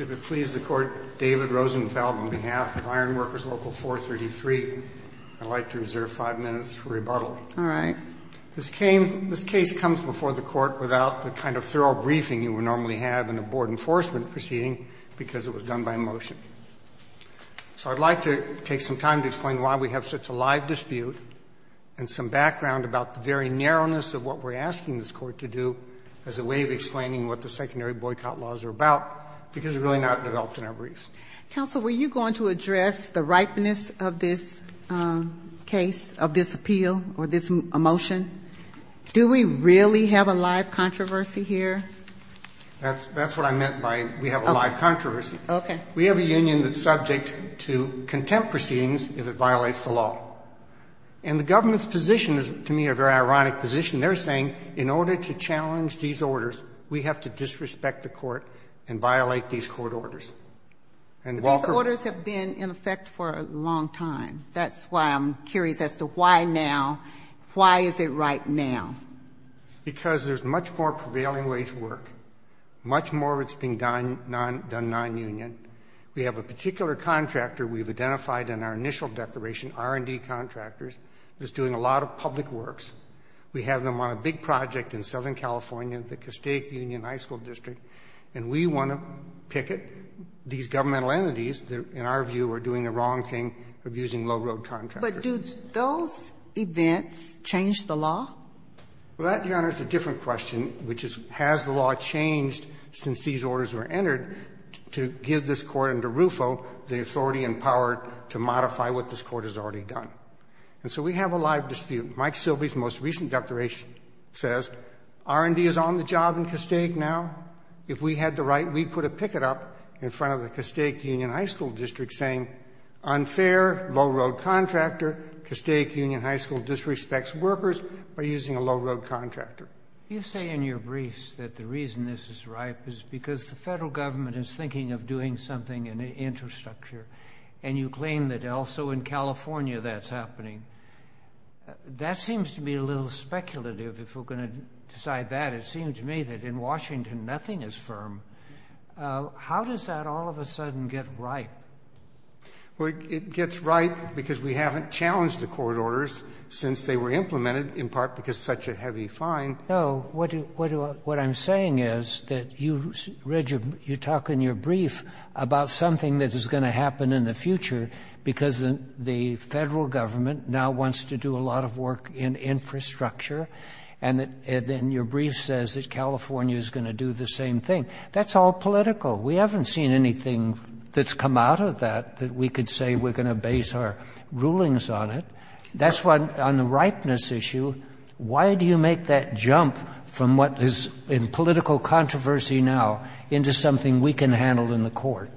If it pleases the Court, David Rosenfeld, on behalf of Ironworkers Local 433, I'd like to reserve five minutes for rebuttal. All right. This case comes before the Court without the kind of thorough briefing you would normally have in a board enforcement proceeding because it was done by motion. So I'd like to take some time to explain why we have such a live dispute and some background about the very narrowness of what we're asking this Court to do as a way of explaining what the secondary boycott laws are about, because they're really not developed in our briefs. Counsel, were you going to address the ripeness of this case, of this appeal or this motion? Do we really have a live controversy here? That's what I meant by we have a live controversy. Okay. We have a union that's subject to contempt proceedings if it violates the law. And the government's position is, to me, a very ironic position. They're saying, in order to challenge these orders, we have to disrespect the Court and violate these court orders. And while we're ---- But these orders have been in effect for a long time. That's why I'm curious as to why now. Why is it right now? Because there's much more prevailing way to work, much more of it's being done nonunion. We have a particular contractor we've identified in our initial declaration, R&D contractors, that's doing a lot of public works. We have them on a big project in Southern California, the Cascade Union High School District, and we want to picket these governmental entities that in our view are doing the wrong thing of using low-road contractors. But do those events change the law? Well, that, Your Honor, is a different question, which is has the law changed since these orders were entered to give this Court under Rufo the authority and power to modify what this Court has already done. And so we have a live dispute. Mike Silvey's most recent declaration says R&D is on the job in Cascade now. If we had the right, we'd put a picket up in front of the Cascade Union High School District saying unfair, low-road contractor, Cascade Union High School disrespects workers by using a low-road contractor. You say in your briefs that the reason this is ripe is because the federal government is thinking of doing something in the infrastructure, and you claim that also in California that's happening. That seems to be a little speculative. If we're going to decide that, it seems to me that in Washington nothing is firm. How does that all of a sudden get ripe? Well, it gets ripe because we haven't challenged the court orders since they were implemented, in part because it's such a heavy fine. No. What I'm saying is that you read your — you talk in your brief about something that is going to happen in the future because the federal government now wants to do a lot of work in infrastructure, and then your brief says that California is going to do the same thing. That's all political. We haven't seen anything that's come out of that that we could say we're going to base our rulings on it. That's why on the ripeness issue, why do you make that jump from what is in political controversy now into something we can handle in the court?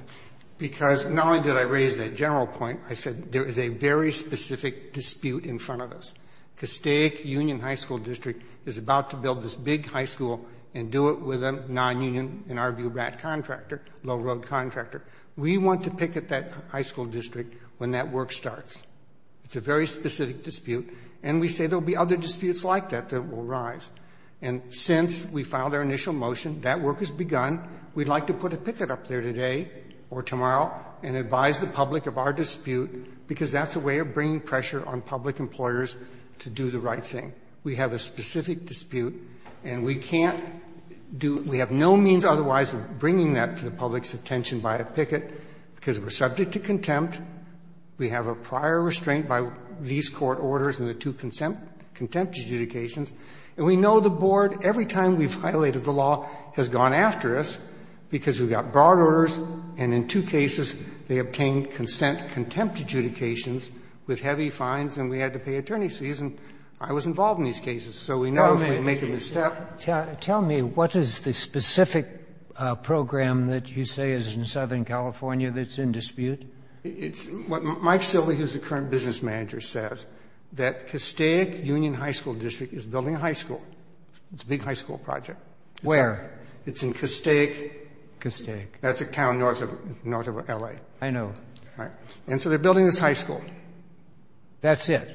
Because not only did I raise that general point, I said there is a very specific dispute in front of us. The State Union High School District is about to build this big high school and do it with a non-union, in our view, RAT contractor, low-road contractor. We want to picket that high school district when that work starts. It's a very specific dispute, and we say there will be other disputes like that that will arise. And since we filed our initial motion, that work has begun, we'd like to put a picket up there today or tomorrow and advise the public of our dispute, because that's a way of bringing pressure on public employers to do the right thing. We have a specific dispute, and we can't do — we have no means otherwise of bringing that to the public's attention by a picket, because we're subject to contempt. We have a prior restraint by these court orders and the two contempt adjudications. And we know the board, every time we've violated the law, has gone after us, because we've got broad orders, and in two cases, they obtained consent contempt adjudications with heavy fines, and we had to pay attorney's fees. And I was involved in these cases. So we know if we make a misstep — Kennedy. Tell me, what is the specific program that you say is in Southern California that's in dispute? It's what Mike Silvey, who's the current business manager, says, that Castaic Union High School District is building a high school. It's a big high school project. Where? It's in Castaic. Castaic. That's a town north of L.A. I know. Right. And so they're building this high school. That's it?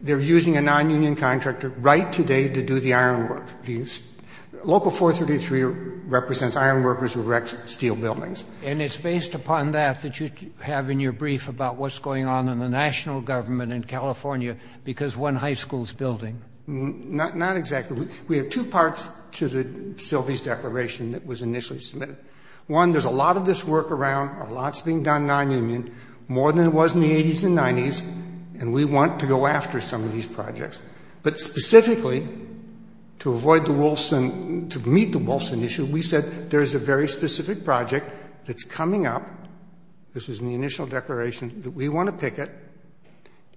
They're using a nonunion contractor right today to do the ironwork. Local 433 represents ironworkers who erect steel buildings. And it's based upon that that you have in your brief about what's going on in the national government in California because one high school's building. Not exactly. We have two parts to Silvey's declaration that was initially submitted. One, there's a lot of this work around, a lot's being done nonunion, more than there was in the 80s and 90s, and we want to go after some of these projects. But specifically, to avoid the Wolfson — to meet the Wolfson issue, we said there's a very specific project that's coming up. This is in the initial declaration that we want to picket.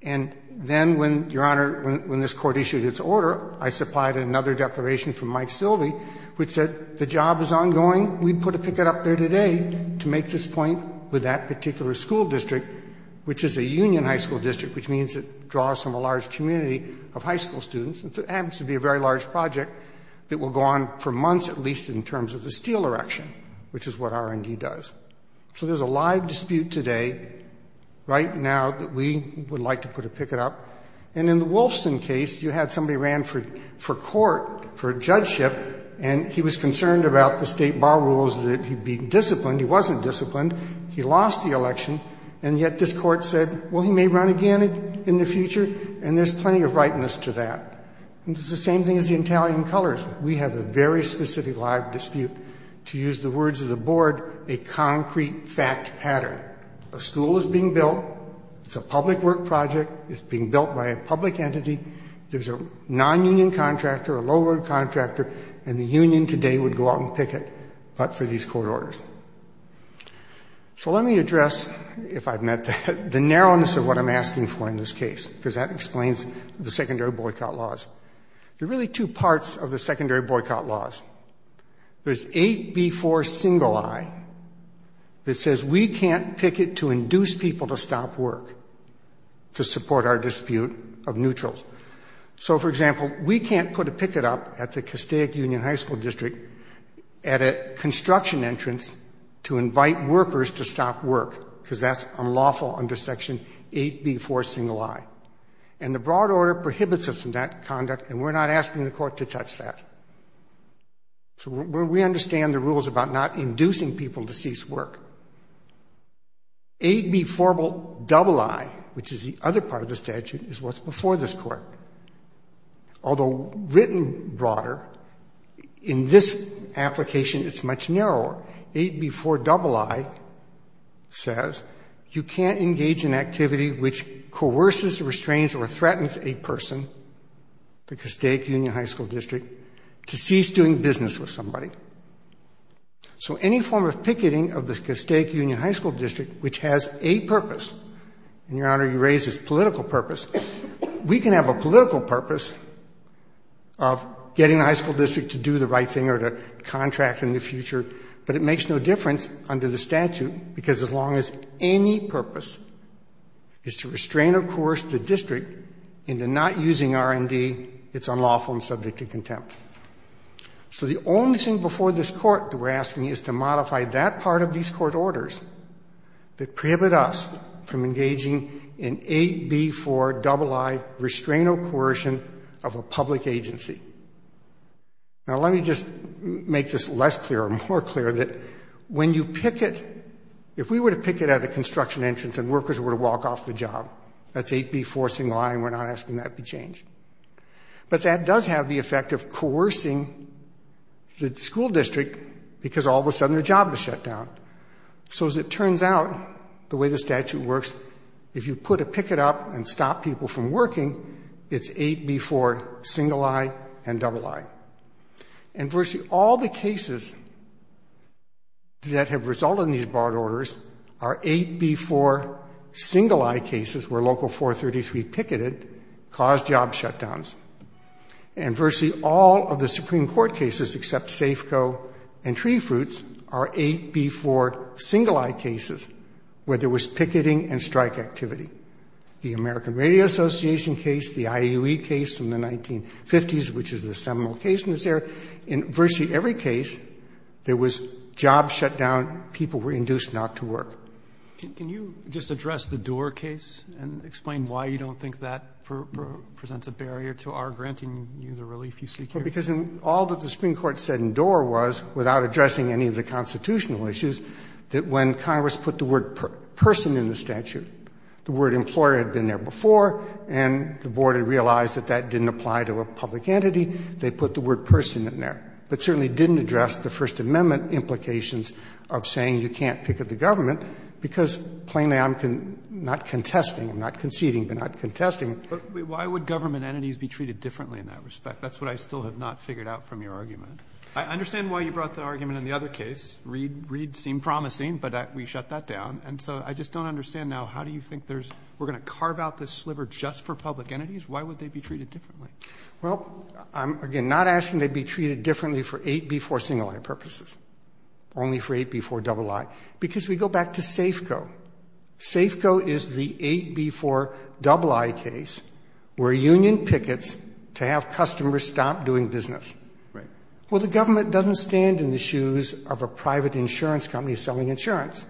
And then when, Your Honor, when this court issued its order, I supplied another declaration from Mike Silvey which said the job is ongoing. We put a picket up there today to make this point with that particular school district, which is a union high school district, which means it draws from a large community of high school students. And so it happens to be a very large project that will go on for months at least in terms of the steel erection, which is what R&D does. So there's a live dispute today, right now, that we would like to put a picket up. And in the Wolfson case, you had somebody ran for court, for judgeship, and he was concerned about the state bar rules, that he'd be disciplined. He wasn't disciplined. He lost the election. And yet this court said, well, he may run again in the future, and there's plenty of rightness to that. And it's the same thing as the Italian colors. We have a very specific live dispute. To use the words of the board, a concrete fact pattern. A school is being built. It's a public work project. It's being built by a public entity. There's a nonunion contractor, a low-earned contractor, and the union today would go out and picket up for these court orders. So let me address, if I've met the narrowness of what I'm asking for in this case, because that explains the secondary boycott laws. There are really two parts of the secondary boycott laws. There's 8B4 single I that says we can't picket to induce people to stop work to support our dispute of neutrals. So, for example, we can't put a picket up at the Castaic Union High School District at a construction entrance to invite workers to stop work, because that's unlawful under Section 8B4 single I. And the broad order prohibits us from that conduct, and we're not asking the court to touch that. So we understand the rules about not inducing people to cease work. 8B4 double I, which is the other part of the statute, is what's before this court. Although written broader, in this application it's much narrower. 8B4 double I says you can't engage in activity which coerces, restrains, or threatens a person, the Castaic Union High School District, to cease doing business with somebody. So any form of picketing of the Castaic Union High School District, which has a purpose, and, Your Honor, you raise this political purpose, we can have a political purpose of getting the high school district to do the right thing or to contract in the future. But it makes no difference under the statute, because as long as any purpose is to restrain or coerce the district into not using R&D, it's unlawful and subject to contempt. So the only thing before this court that we're asking is to modify that part of these court orders that prohibit us from engaging in 8B4 double I restraint or coercion of a public agency. Now let me just make this less clear or more clear that when you picket, if we were to picket at a construction entrance and workers were to walk off the job, that's 8B4 single I and we're not asking that be changed. But that does have the effect of coercing the school district because all of a sudden their job is shut down. So as it turns out, the way the statute works, if you put a picket up and stop people from working, it's 8B4 single I and double I. And virtually all the cases that have resulted in these barred orders are 8B4 single I cases where local 433 picketed caused job shutdowns. And virtually all of the Supreme Court cases except Safeco and Tree Fruits are 8B4 single I cases where there was picketing and strike activity. The American Radio Association case, the IUE case from the 1950s, which is the seminal case in this area, in virtually every case there was job shutdown, people were induced not to work. Roberts. Can you just address the Doar case and explain why you don't think that presents a barrier to our granting you the relief you seek here? Because all that the Supreme Court said in Doar was, without addressing any of the implications of saying you can't picket the government, because plainly, I'm not contesting, I'm not conceding, but not contesting. But why would government entities be treated differently in that respect? That's what I still have not figured out from your argument. I understand why you brought the argument in the other case. Reed seemed promising, but we shut that down. And so I just don't understand now. How do you think we're going to carve out this sliver just for public entities? Why would they be treated differently? Well, I'm, again, not asking they be treated differently for 8B4 single I purposes, only for 8B4 double I, because we go back to Safeco. Safeco is the 8B4 double I case where a union pickets to have customers stop doing business. Well, the government doesn't stand in the shoes of a private insurance company selling insurance.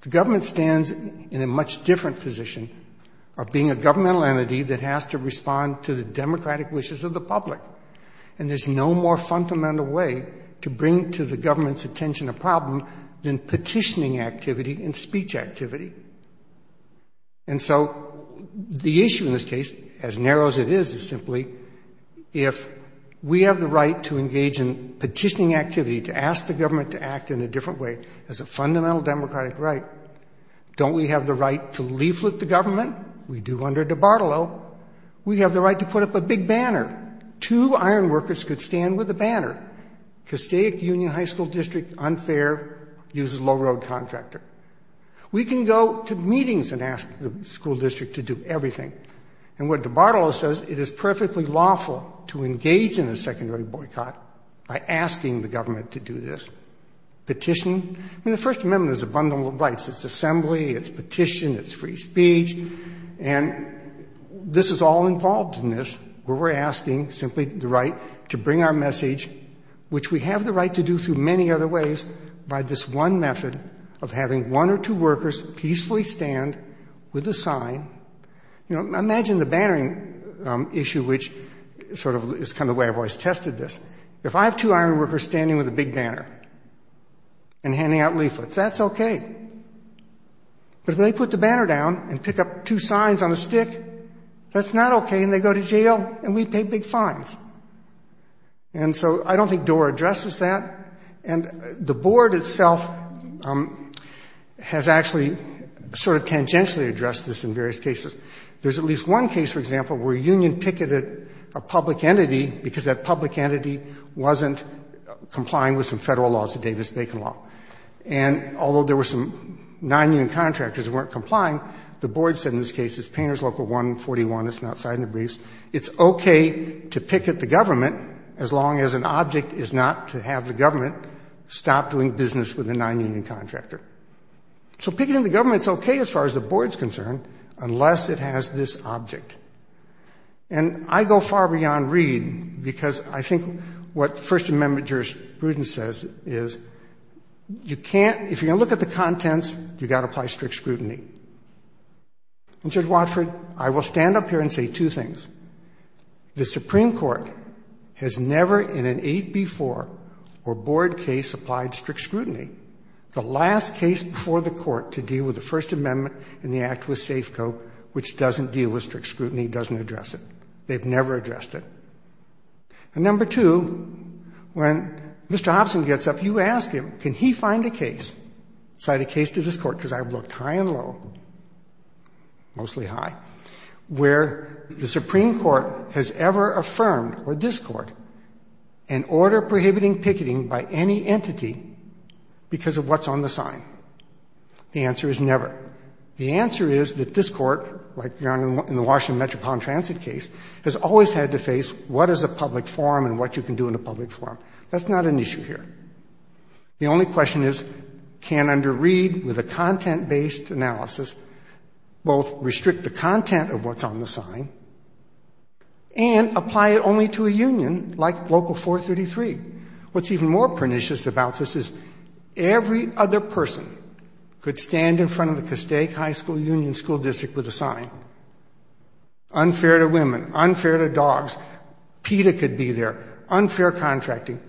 The government stands in a much different position of being a governmental entity that has to respond to the democratic wishes of the public. And there's no more fundamental way to bring to the government's attention a problem than petitioning activity and speech activity. And so the issue in this case, as narrow as it is, is simply if we have the right to engage in petitioning activity, to ask the government to act in a different way as a fundamental democratic right. Don't we have the right to leaflet the government? We do under DiBartolo. We have the right to put up a big banner. Two iron workers could stand with a banner. Castaic Union High School District, unfair, uses low-road contractor. We can go to meetings and ask the school district to do everything. And what DiBartolo says, it is perfectly lawful to engage in a secondary boycott by asking the government to do this. Petition? I mean, the First Amendment is abundant rights. It's assembly. It's petition. It's free speech. And this is all involved in this, where we're asking simply the right to bring our message, which we have the right to do through many other ways, by this one method of having one or two workers peacefully stand with a sign. You know, imagine the bannering issue, which sort of is kind of the way I've always tested this. If I have two iron workers standing with a big banner and handing out leaflets, that's okay. But if they put the banner down and pick up two signs on a stick, that's not okay, and they go to jail, and we pay big fines. And so I don't think DORA addresses that. And the board itself has actually sort of tangentially addressed this in various cases. There's at least one case, for example, where a union picketed a public entity because that public entity wasn't complying with some federal laws, the Davis-Bacon law. And although there were some non-union contractors who weren't complying, the board said in this case, it's Painters Local 141. It's not signed the briefs. It's okay to picket the government as long as an object is not to have the government stop doing business with a non-union contractor. So picketing the government's okay as far as the board's concerned unless it has this object. And I go far beyond Reed because I think what First Amendment jurisprudence says is you can't, if you're going to look at the contents, you've got to apply strict scrutiny. And, Judge Watford, I will stand up here and say two things. The Supreme Court has never in an 8B4 or board case applied strict scrutiny. The last case before the Court to deal with the First Amendment in the act was They've never addressed it. And number two, when Mr. Hobson gets up, you ask him, can he find a case, cite a case to this Court, because I've looked high and low, mostly high, where the Supreme Court has ever affirmed, or this Court, an order prohibiting picketing by any entity because of what's on the sign. The answer is never. The answer is that this Court, like in the Washington Metropolitan Transit case, has always had to face what is a public forum and what you can do in a public forum. That's not an issue here. The only question is, can under Reed, with a content-based analysis, both restrict the content of what's on the sign and apply it only to a union like Local 433? What's even more pernicious about this is every other person could stand in front of the Castaic High School Union School District with a sign. Unfair to women. Unfair to dogs. PETA could be there. Unfair contracting.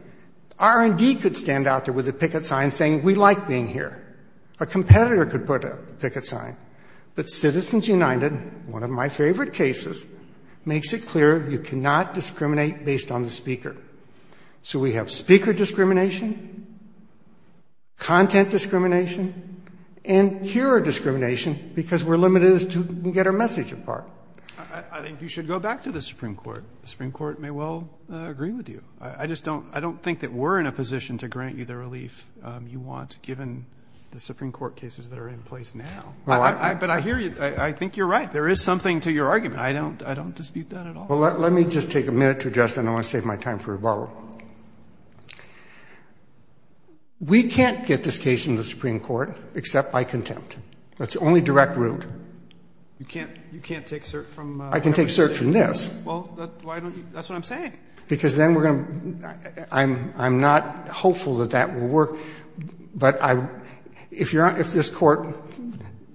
R&D could stand out there with a picket sign saying, we like being here. A competitor could put a picket sign. But Citizens United, one of my favorite cases, makes it clear you cannot discriminate based on the speaker. So we have speaker discrimination, content discrimination, and hearer discrimination because we're limited as to who can get our message apart. I think you should go back to the Supreme Court. The Supreme Court may well agree with you. I just don't think that we're in a position to grant you the relief you want, given the Supreme Court cases that are in place now. But I hear you. I think you're right. There is something to your argument. I don't dispute that at all. Well, let me just take a minute to address that. I don't want to save my time for rebuttal. We can't get this case in the Supreme Court except by contempt. That's the only direct route. You can't take cert from every state? I can take cert from this. Well, why don't you? That's what I'm saying. Because then we're going to – I'm not hopeful that that will work. But if this Court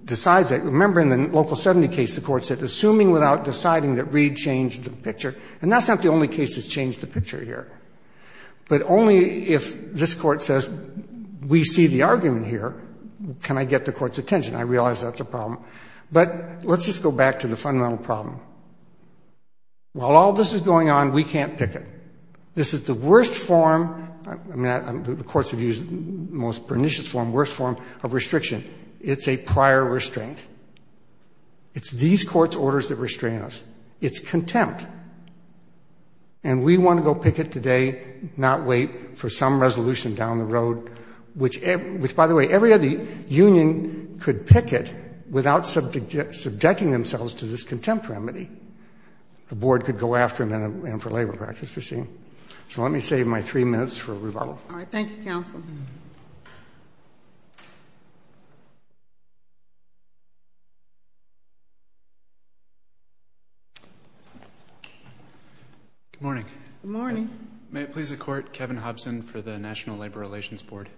decides that – remember, in the Local 70 case, the Court said, assuming without deciding that Reed changed the picture – and that's not the only case that's changed the picture here. But only if this Court says, we see the argument here, can I get the Court's attention. I realize that's a problem. But let's just go back to the fundamental problem. While all this is going on, we can't pick it. This is the worst form – the courts have used the most pernicious form, worst form of restriction. It's a prior restraint. It's these courts' orders that restrain us. It's contempt. And we want to go pick it today, not wait for some resolution down the road, which – which, by the way, every other union could pick it without subjecting themselves to this contempt remedy. The Board could go after them and for labor practice, you see. So let me save my three minutes for rebuttal. All right, thank you, Counsel. Good morning. Good morning. May it please the Court, Kevin Hobson for the National Labor Relations Board.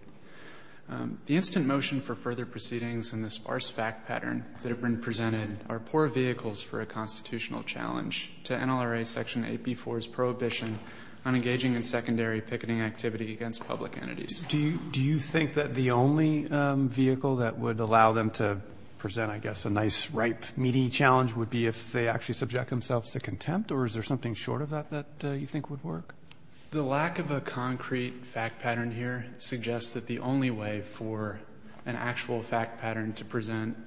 The instant motion for further proceedings in this sparse fact pattern that have been presented are poor vehicles for a constitutional challenge to NLRA Section 8b4's prohibition on engaging in secondary picketing activity against public entities. Do you – do you think that the only vehicle that would allow them to present, I guess, a nice, ripe, meaty challenge would be if they actually subject themselves to contempt, or is there something short of that that you think would work? The lack of a concrete fact pattern here suggests that the only way for an actual fact pattern to present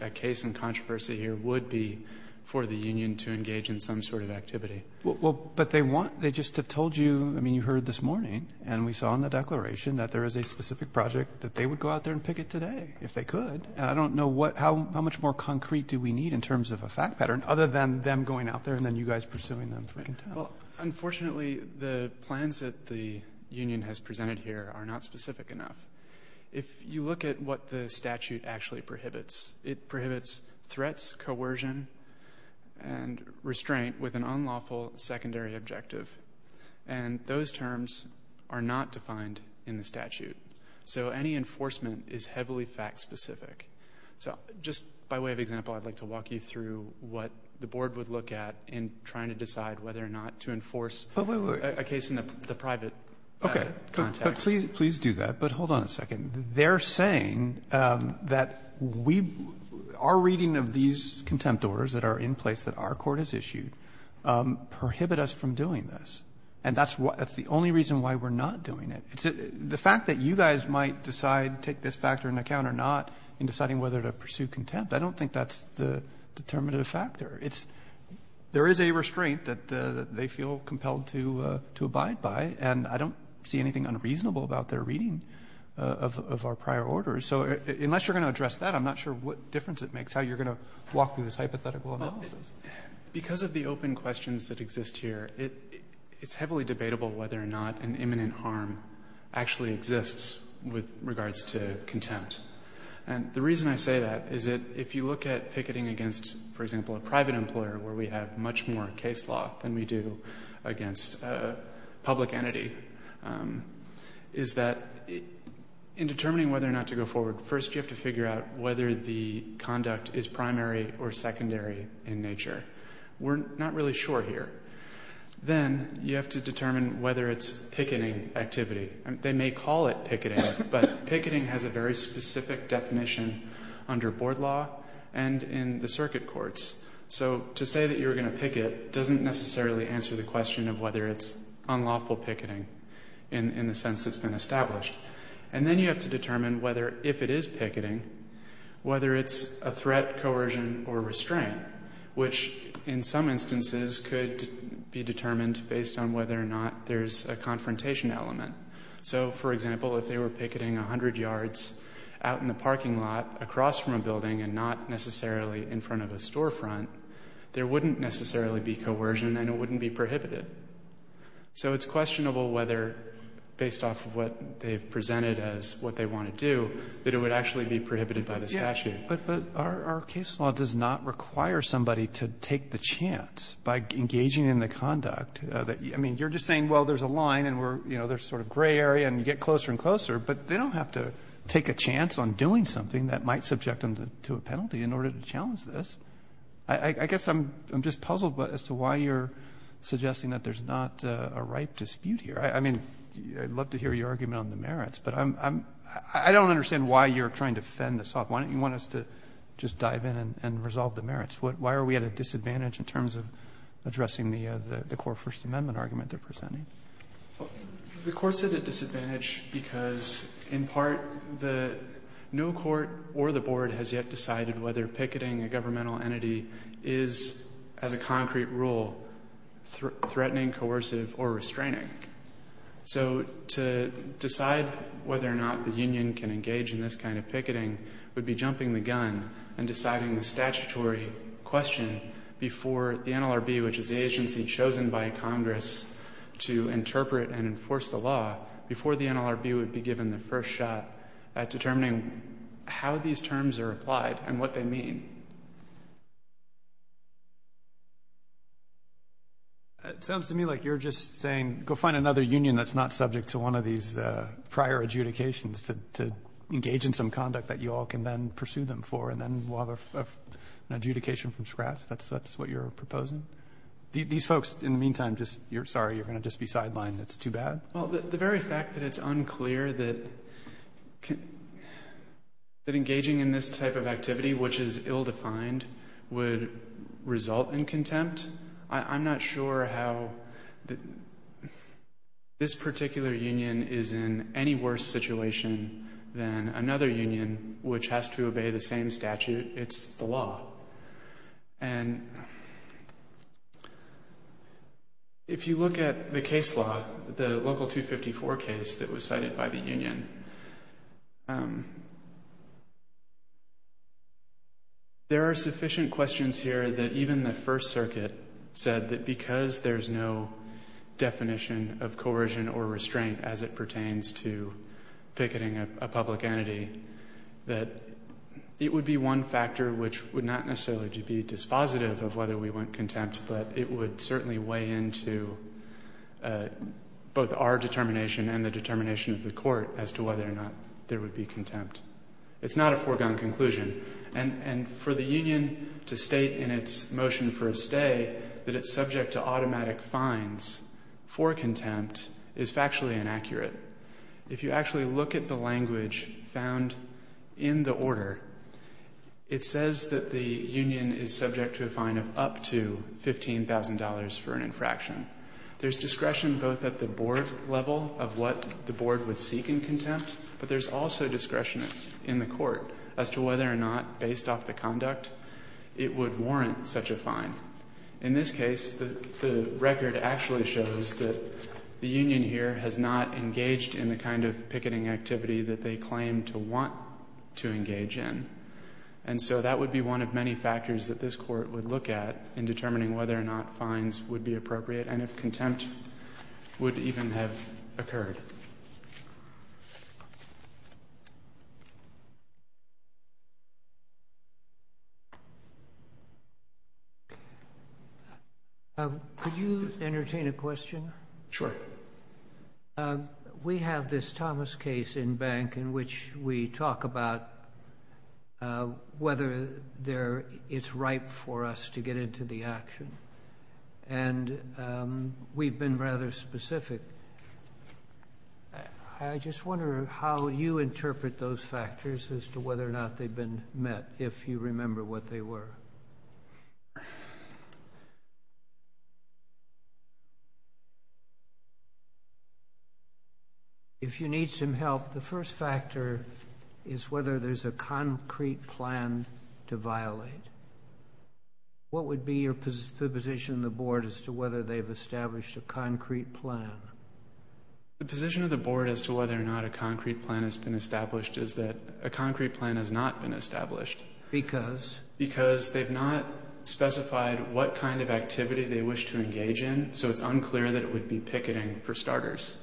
a case in controversy here would be for the union to engage in some sort of activity. Well, but they want – they just have told you – I mean, you heard this morning and we saw in the declaration that there is a specific project that they would go out there and picket today if they could. And I don't know what – how much more concrete do we need in terms of a fact pattern other than them going out there and then you guys pursuing them for contempt. Well, unfortunately, the plans that the union has presented here are not specific enough. If you look at what the statute actually prohibits, it prohibits threats, coercion, and restraint with an unlawful secondary objective. And those terms are not defined in the statute. So any enforcement is heavily fact-specific. So just by way of example, I'd like to walk you through what the Board would look at in trying to decide whether or not to enforce a case in the private context. Okay. But please do that. But hold on a second. They're saying that we – our reading of these contempt orders that are in place that our court has issued prohibit us from doing this. And that's the only reason why we're not doing it. The fact that you guys might decide to take this factor into account or not in deciding whether to pursue contempt, I don't think that's the determinative factor. It's – there is a restraint that they feel compelled to abide by, and I don't see anything unreasonable about their reading of our prior orders. So unless you're going to address that, I'm not sure what difference it makes, how you're going to walk through this hypothetical analysis. Because of the open questions that exist here, it's heavily debatable whether or not an imminent harm actually exists with regards to contempt. And the reason I say that is that if you look at picketing against, for example, a private employer where we have much more case law than we do against a public entity, is that in determining whether or not to go forward, first you have to figure out whether the conduct is primary or secondary in nature. We're not really sure here. Then you have to determine whether it's picketing activity. They may call it picketing, but picketing has a very specific definition under board law and in the circuit courts. So to say that you're going to picket doesn't necessarily answer the question of whether it's unlawful picketing in the sense it's been established. And then you have to determine whether, if it is picketing, whether it's a threat, coercion, or restraint, which in some instances could be determined based on whether or not there's a confrontation element. So, for example, if they were picketing 100 yards out in the parking lot across from a building and not necessarily in front of a storefront, there wouldn't necessarily be coercion and it wouldn't be prohibited. So it's questionable whether, based off of what they've presented as what they want to do, that it would actually be prohibited by the statute. But our case law does not require somebody to take the chance by engaging in the conduct. I mean, you're just saying, well, there's a line and there's a sort of gray area and you get closer and closer, but they don't have to take a chance on doing something that might subject them to a penalty in order to challenge this. I guess I'm just puzzled as to why you're suggesting that there's not a ripe dispute here. I mean, I'd love to hear your argument on the merits, but I don't understand why you're trying to fend this off. Why don't you want us to just dive in and resolve the merits? Why are we at a disadvantage in terms of addressing the core First Amendment argument they're presenting? The Court's at a disadvantage because, in part, no court or the Board has yet decided whether picketing a governmental entity is, as a concrete rule, threatening, coercive or restraining. So to decide whether or not the union can engage in this kind of picketing would be before the NLRB, which is the agency chosen by Congress to interpret and enforce the law, before the NLRB would be given the first shot at determining how these terms are applied and what they mean. It sounds to me like you're just saying, go find another union that's not subject to one of these prior adjudications to engage in some conduct that you all can then pursue them for and then we'll have an adjudication from scratch. That's what you're proposing? These folks, in the meantime, just, sorry, you're going to just be sidelined. It's too bad? Well, the very fact that it's unclear that engaging in this type of activity, which is ill-defined, would result in contempt, I'm not sure how this particular union is in any worse situation than another union which has to obey the same statute. It's the law. And if you look at the case law, the Local 254 case that was cited by the union, there are sufficient questions here that even the First Circuit said that because there's no public entity, that it would be one factor which would not necessarily be dispositive of whether we want contempt, but it would certainly weigh into both our determination and the determination of the court as to whether or not there would be contempt. It's not a foregone conclusion. And for the union to state in its motion for a stay that it's subject to automatic fines for contempt is factually inaccurate. If you actually look at the language found in the order, it says that the union is subject to a fine of up to $15,000 for an infraction. There's discretion both at the board level of what the board would seek in contempt, but there's also discretion in the court as to whether or not, based off the conduct, it would warrant such a fine. In this case, the record actually shows that the union here has not engaged in the kind of picketing activity that they claim to want to engage in. And so that would be one of many factors that this Court would look at in determining whether or not fines would be appropriate and if contempt would even have occurred. Could you entertain a question? Sure. We have this Thomas case in bank in which we talk about whether it's right for us to get into the action. And we've been rather specific. I just wonder how you interpret those factors as to whether or not they've been met, if you remember what they were. If you need some help, the first factor is whether there's a concrete plan to violate. What would be the position of the board as to whether they've established a concrete plan? The position of the board as to whether or not a concrete plan has been established is that a concrete plan has not been established. Because? Because they've not specified what kind of activity they wish to engage in, so it's unclear that it would be picketing for starters.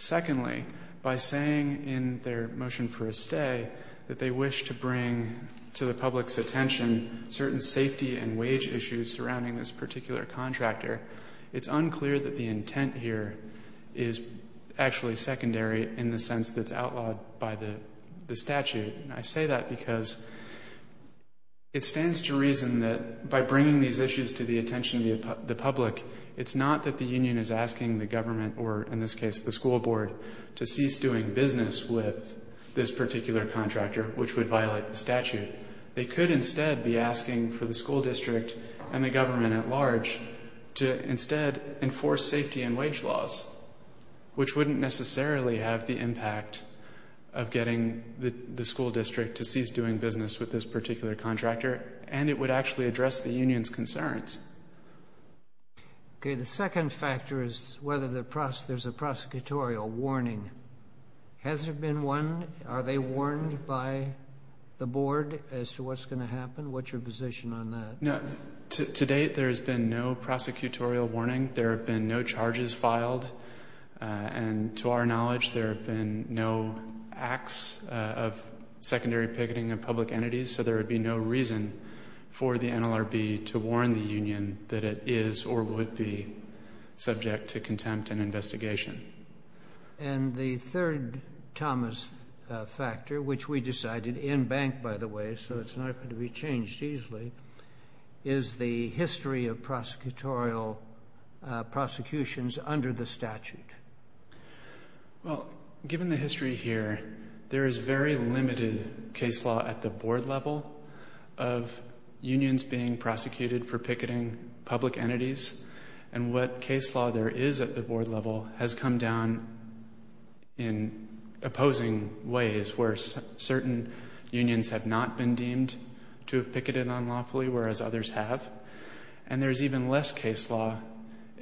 Secondly, by saying in their motion for a stay that they wish to bring to the public's attention certain safety and wage issues surrounding this particular contractor, it's unclear that the intent here is actually secondary in the sense that it's outlawed by the statute. And I say that because it stands to reason that by bringing these issues to the attention of the public, it's not that the union is asking the government, or in this case the school board, to cease doing business with this particular contractor, which would violate the statute. They could instead be asking for the school district and the government at large to instead enforce safety and wage laws, which wouldn't necessarily have the impact of getting the school district to cease doing business with this particular contractor, and it would actually address the union's concerns. Okay, the second factor is whether there's a prosecutorial warning. Has there been one? Are they warned by the board as to what's going to happen? What's your position on that? To date, there's been no prosecutorial warning. There have been no charges filed. And to our knowledge, there have been no acts of secondary picketing of public entities, so there would be no reason for the NLRB to warn the union that it is or would be subject to contempt and investigation. And the third, Thomas, factor, which we decided, in bank, by the way, so it's not going to be changed easily, is the history of prosecutorial prosecutions under the statute. Well, given the history here, there is very limited case law at the board level of unions being prosecuted for picketing public entities, and what case law there is at the board level has come down in opposing ways where certain unions have not been deemed to have picketed unlawfully, whereas others have. And there's even less case law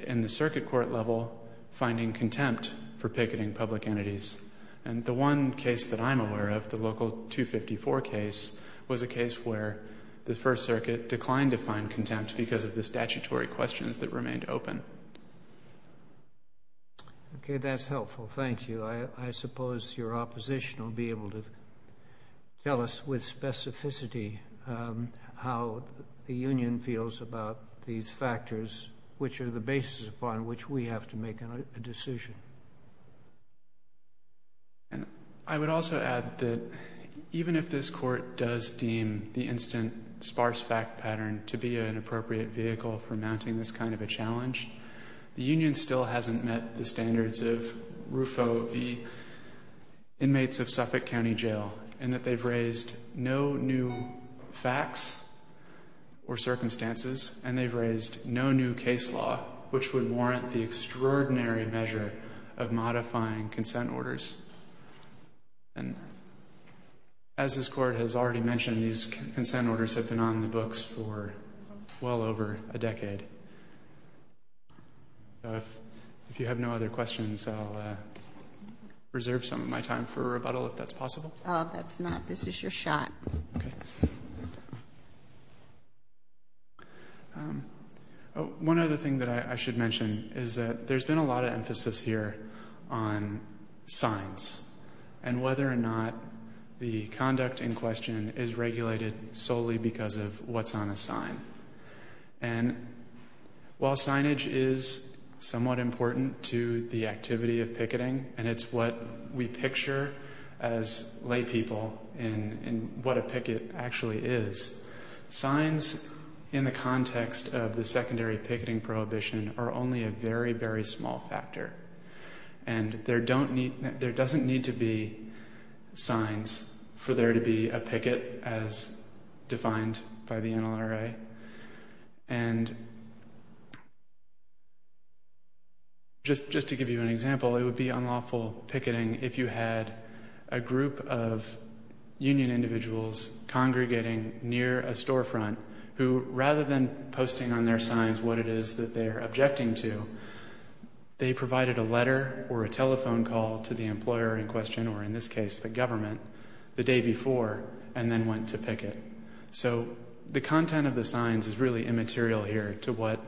in the circuit court level finding contempt for picketing public entities. And the one case that I'm aware of, the local 254 case, was a case where the First Circuit declined to find contempt because of the statutory questions that remained open. Okay, that's helpful. Thank you. I suppose your opposition will be able to tell us with specificity how the union feels about these factors, which are the basis upon which we have to make a decision. I would also add that even if this Court does deem the instant sparse fact pattern to be an appropriate vehicle for mounting this kind of a challenge, the union still hasn't met the standards of RUFO v. inmates of Suffolk County Jail, and that they've raised no new facts or circumstances, and they've raised no new case law, which would warrant the extraordinary measure of modifying consent orders. And as this Court has already mentioned, these consent orders have been on the books for well over a decade. So if you have no other questions, I'll reserve some of my time for rebuttal, if that's possible. Oh, that's not. This is your shot. Okay. One other thing that I should mention is that there's been a lot of emphasis here on signs, and whether or not the conduct in question is regulated solely because of what's on a sign. And while signage is somewhat important to the activity of picketing, and it's what we picture as laypeople in what a picket actually is, signs in the context of the secondary picketing prohibition are only a very, very small factor, and there doesn't need to be signs for there to be a picket as defined by the NLRA. And just to give you an example, it would be unlawful picketing if you had a group of union individuals congregating near a storefront who, rather than posting on their signs what it is that they're objecting to, they provided a letter or a telephone call to the employer in question, or in this case, the government, the day before, and then went to picket. So the content of the signs is really immaterial here to what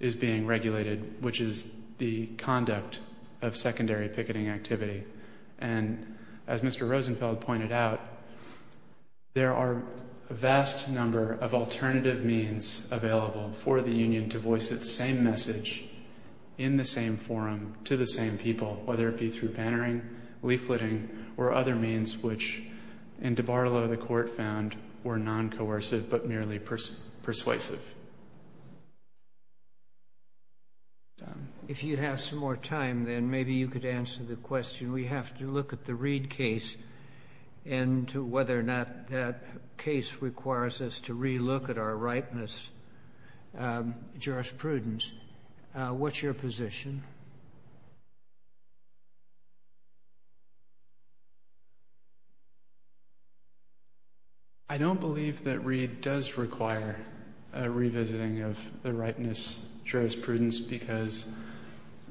is being regulated, which is the conduct of secondary picketing activity. And as Mr. Rosenfeld pointed out, there are a vast number of alternative means available for the union to voice its same message in the same forum to the same people, whether it be through bannering, leafleting, or other means which, in DiBarlo, the court found were non-coercive but merely persuasive. If you have some more time, then maybe you could answer the question. We have to look at the Reid case and whether or not that case requires us to re-look at our ripeness jurisprudence. What's your position? I don't believe that Reid does require a revisiting of the ripeness jurisprudence because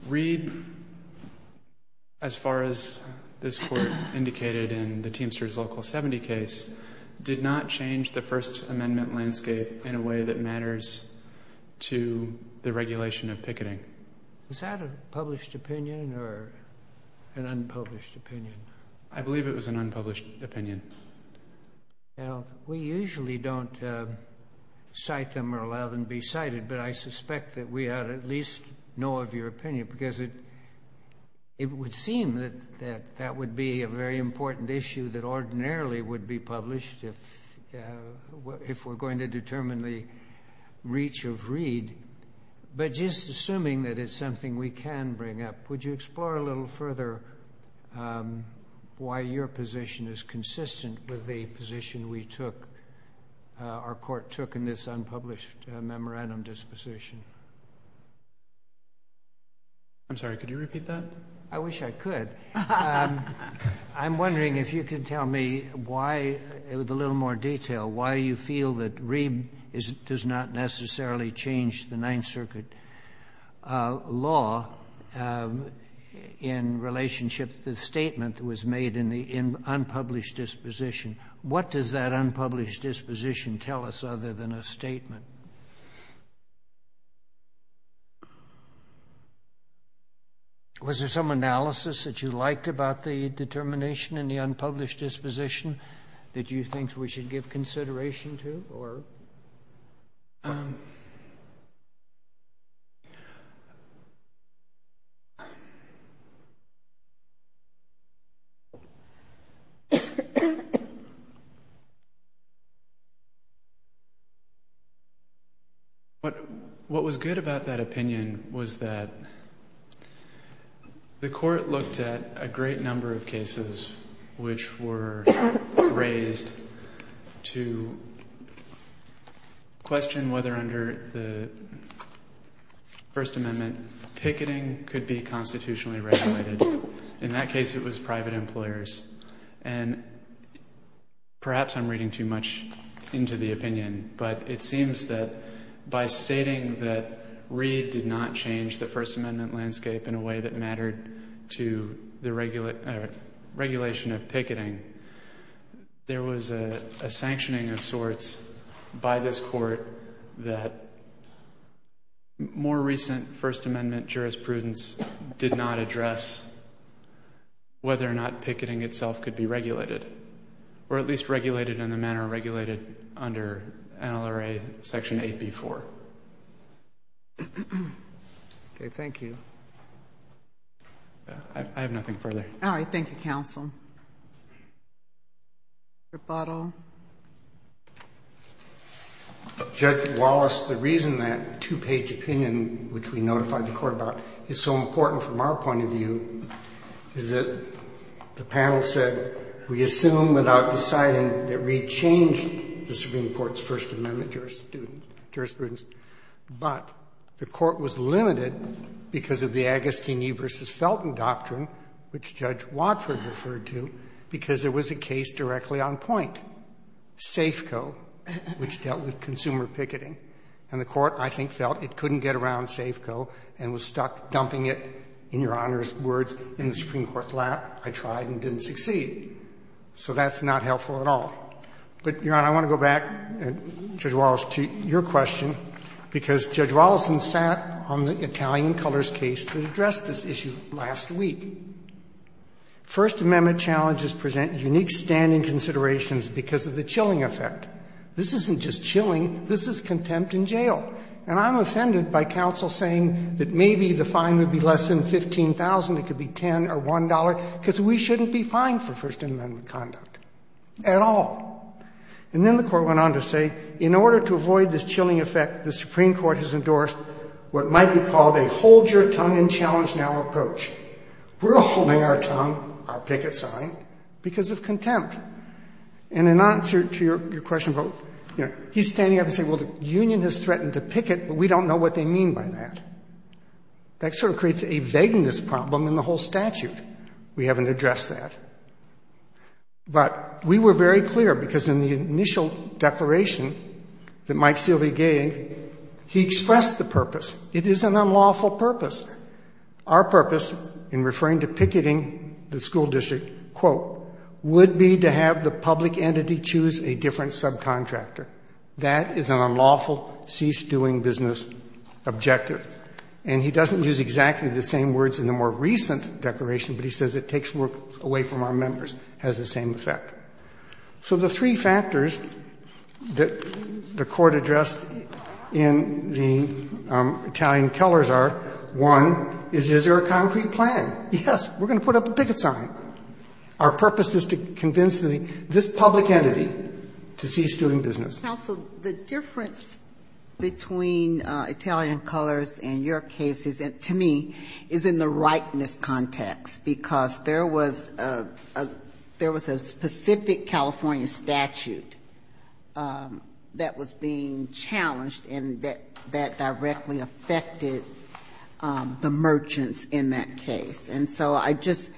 Reid, as far as this court indicated in the Teamsters Local 70 case, did not change the First Amendment landscape in a way that matters to the regulation of picketing. Was that a published opinion or an unpublished opinion? I believe it was an unpublished opinion. Now, we usually don't cite them or allow them to be cited, but I suspect that we ought to at least know of your opinion because it would seem that that would be a very important issue that ordinarily would be published if we're going to determine the reach of Reid. But just assuming that it's something we can bring up, would you explore a little further why your position is consistent with the position we took, our court took, in this unpublished memorandum disposition? I'm sorry, could you repeat that? I wish I could. I'm wondering if you could tell me why, with a little more detail, why you feel that Reid does not necessarily change the Ninth Circuit law in relationship to the statement that was made in the unpublished disposition. What does that unpublished disposition tell us other than a statement? Was there some analysis that you liked about the determination in the unpublished disposition that you think we should give consideration to? What was good about that opinion was that the court looked at a great number of cases which were raised to question whether under the First Amendment picketing could be constitutionally regulated. In that case, it was private employers. And perhaps I'm reading too much into the opinion, but it seems that by stating that Reid did not change the First Amendment landscape in a way that mattered to the regulation of picketing, there was a sanctioning of sorts by this court that more recent First Amendment jurisprudence did not address whether or not picketing itself could be regulated, or at least regulated in the manner regulated under NLRA Section 8b-4. Okay, thank you. I have nothing further. All right, thank you, counsel. Mr. Bottle. Judge Wallace, the reason that two-page opinion, which we notified the court about, is so important from our point of view is that the panel said we assume without deciding that Reid changed the Supreme Court's First Amendment jurisprudence, but the court was limited because of the Agostini v. Felton doctrine, which Judge Wadford referred to, because there was a case directly on point, Safeco, which dealt with consumer picketing. And the court, I think, felt it couldn't get around Safeco and was stuck dumping it, in Your Honor's words, in the Supreme Court's lap. I tried and didn't succeed. So that's not helpful at all. But, Your Honor, I want to go back, Judge Wallace, to your question, because Judge Wallace sat on the Italian Colors case that addressed this issue last week. First Amendment challenges present unique standing considerations because of the chilling effect. This isn't just chilling, this is contempt in jail. And I'm offended by counsel saying that maybe the fine would be less than $15,000, it could be $10 or $1, because we shouldn't be fined for First Amendment conduct at all. And then the court went on to say, in order to avoid this chilling effect, the Supreme Court has endorsed what might be called a hold-your-tongue-in-challenge-now approach. We're holding our tongue, our picket sign, because of contempt. And in answer to your question about, he's standing up and saying, well, the union has threatened to picket, but we don't know what they mean by that. That sort of creates a vagueness problem in the whole statute. We haven't addressed that. But we were very clear, because in the initial declaration that Mike Silvey gave, he expressed the purpose. It is an unlawful purpose. Our purpose in referring to picketing the school district, quote, would be to have the public entity choose a different subcontractor. That is an unlawful, cease-doing-business objective. And he doesn't use exactly the same words in the more recent declaration, but he takes words away from our members, has the same effect. So the three factors that the Court addressed in the Italian Kellers are, one, is, is there a concrete plan? Yes. We're going to put up a picket sign. Our purpose is to convince this public entity to cease doing business. Ginsburg-Gilmour. Counsel, the difference between Italian Kellers and your case is, to me, is in the likeness context, because there was a specific California statute that was being challenged and that directly affected the merchants in that case. And so I just,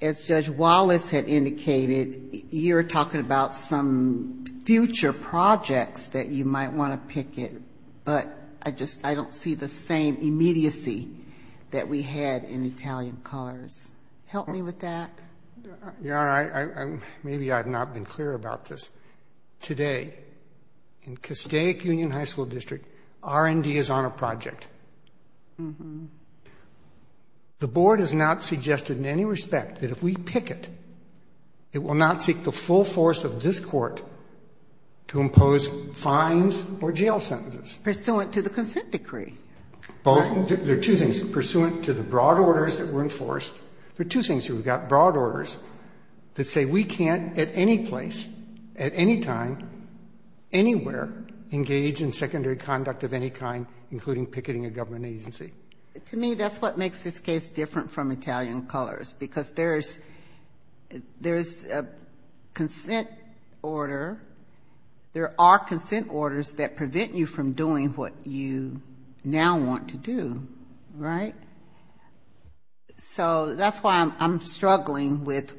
as Judge Wallace had indicated, you're talking about some future projects that you might want to picket, but I just, I don't see the same immediacy that we had in Italian Kellers. Help me with that. Your Honor, maybe I've not been clear about this. Today, in Castaic Union High School District, R&D is on a project. The Board has not suggested in any respect that if we picket, it will not seek the full force of this Court to impose fines or jail sentences. Pursuant to the consent decree. There are two things. Pursuant to the broad orders that were enforced. There are two things here. We've got broad orders that say we can't at any place, at any time, anywhere engage in secondary conduct of any kind, including picketing a government agency. To me, that's what makes this case different from Italian Kellers, because there is a consent order. There are consent orders that prevent you from doing what you now want to do. Right? So that's why I'm struggling with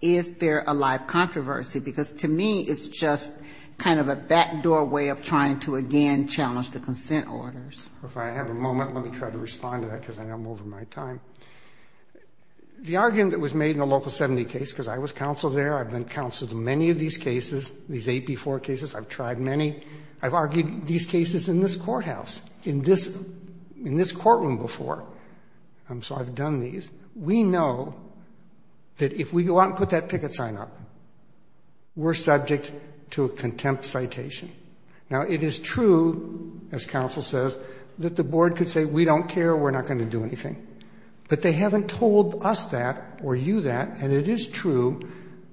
is there a live controversy, because to me, it's just kind of a backdoor way of trying to, again, challenge the consent orders. If I have a moment, let me try to respond to that, because I'm over my time. The argument that was made in the Local 70 case, because I was counsel there, I've been counsel to many of these cases, these 8B4 cases, I've tried many. I've argued these cases in this courthouse, in this courtroom before. So I've done these. We know that if we go out and put that picket sign up, we're subject to a contempt citation. Now, it is true, as counsel says, that the board could say we don't care, we're not going to do anything. But they haven't told us that or you that. And it is true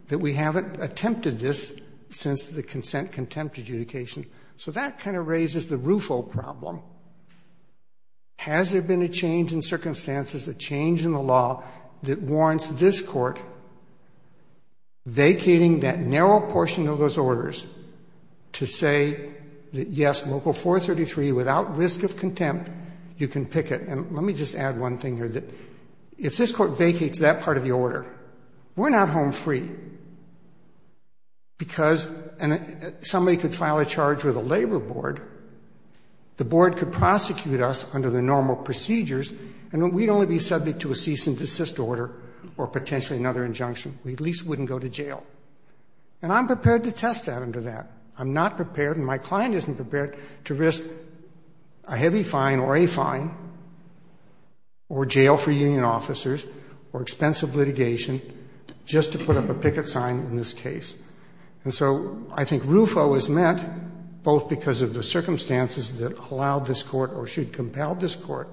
that we haven't attempted this since the consent contempt adjudication. So that kind of raises the RUFO problem. Has there been a change in circumstances, a change in the law that warrants this Court vacating that narrow portion of those orders to say that, yes, Local 433, without risk of contempt, you can picket? And let me just add one thing here, that if this Court vacates that part of the order, we're not home free, because somebody could file a charge with a labor board, the board could prosecute us under the normal procedures, and we'd only be subject to a cease and desist order or potentially another injunction. We at least wouldn't go to jail. And I'm prepared to test that under that. I'm not prepared and my client isn't prepared to risk a heavy fine or a fine or jail for union officers or expensive litigation just to put up a picket sign in this case. And so I think RUFO is meant both because of the circumstances that allowed this Court or should compel this Court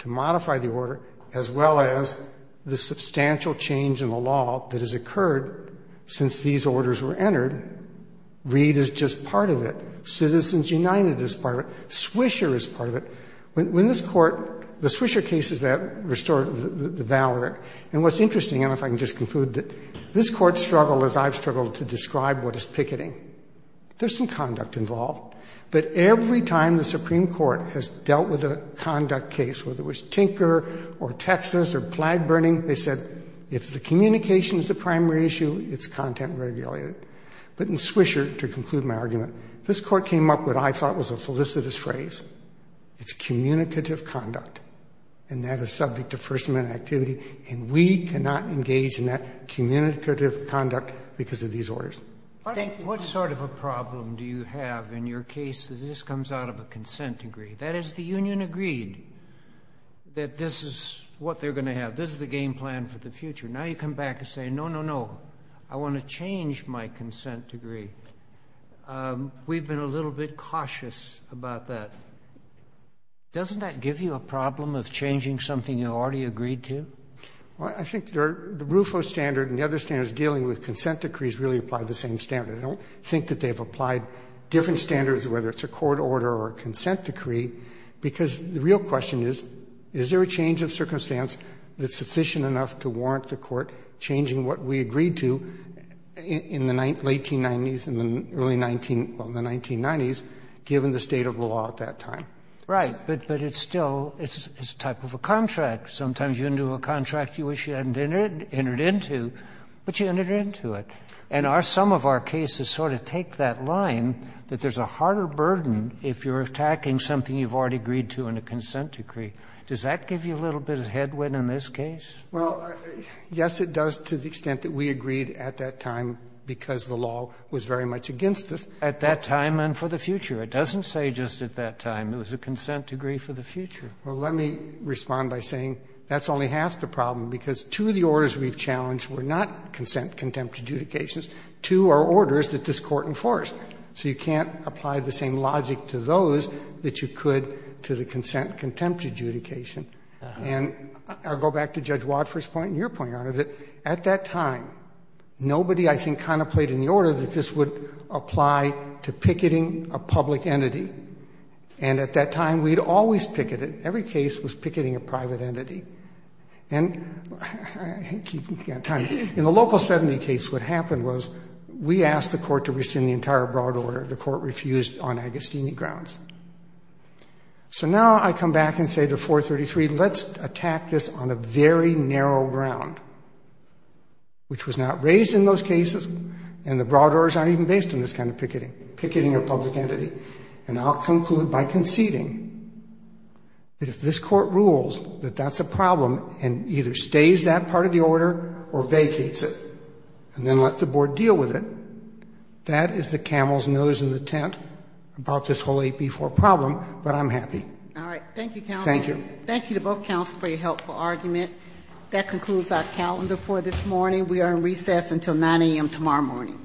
to modify the order, as well as the substantial change in the law that has occurred since these orders were entered. Reed is just part of it. Citizens United is part of it. Swisher is part of it. When this Court, the Swisher case is that restored, the Valerick. And what's interesting, and if I can just conclude, this Court struggled, as I've struggled, to describe what is picketing. There's some conduct involved. But every time the Supreme Court has dealt with a conduct case, whether it was if the communication is the primary issue, it's content regulated. But in Swisher, to conclude my argument, this Court came up with what I thought was a felicitous phrase. It's communicative conduct. And that is subject to First Amendment activity. And we cannot engage in that communicative conduct because of these orders. Thank you. Kennedy. What sort of a problem do you have in your case that this comes out of a consent agree? That is, the union agreed that this is what they're going to have. This is the game plan for the future. Now you come back and say, no, no, no. I want to change my consent decree. We've been a little bit cautious about that. Doesn't that give you a problem of changing something you already agreed to? Well, I think the RUFO standard and the other standards dealing with consent decrees really apply the same standard. I don't think that they've applied different standards, whether it's a court order or a consent decree, because the real question is, is there a change of circumstance that's sufficient enough to warrant the court changing what we agreed to in the 1990s, in the early 19, well, the 1990s, given the state of the law at that time? Right. But it's still, it's a type of a contract. Sometimes you're into a contract you wish you hadn't entered into, but you entered into it. And some of our cases sort of take that line that there's a harder burden if you're attacking something you've already agreed to in a consent decree. Does that give you a little bit of headwind in this case? Well, yes, it does to the extent that we agreed at that time because the law was very much against us. At that time and for the future. It doesn't say just at that time. It was a consent decree for the future. Well, let me respond by saying that's only half the problem, because two of the orders we've challenged were not consent contempt adjudications. Two are orders that this Court enforced. So you can't apply the same logic to those that you could to the consent contempt adjudication. And I'll go back to Judge Wadford's point and your point, Your Honor, that at that time nobody, I think, contemplated in the order that this would apply to picketing a public entity. And at that time we'd always picketed. Every case was picketing a private entity. And in the Local 70 case what happened was we asked the Court to rescind the entire broad order. The Court refused on Agostini grounds. So now I come back and say to 433, let's attack this on a very narrow ground, which was not raised in those cases, and the broad orders aren't even based on this kind of picketing, picketing a public entity. And I'll conclude by conceding that if this Court rules that that's a problem and either stays that part of the order or vacates it and then lets the Board deal with it, that is the camel's nose in the tent about this whole 8B4 problem. But I'm happy. All right. Thank you, Counselor. Thank you. Thank you to both Counselors for your helpful argument. That concludes our calendar for this morning. We are in recess until 9 a.m. tomorrow morning.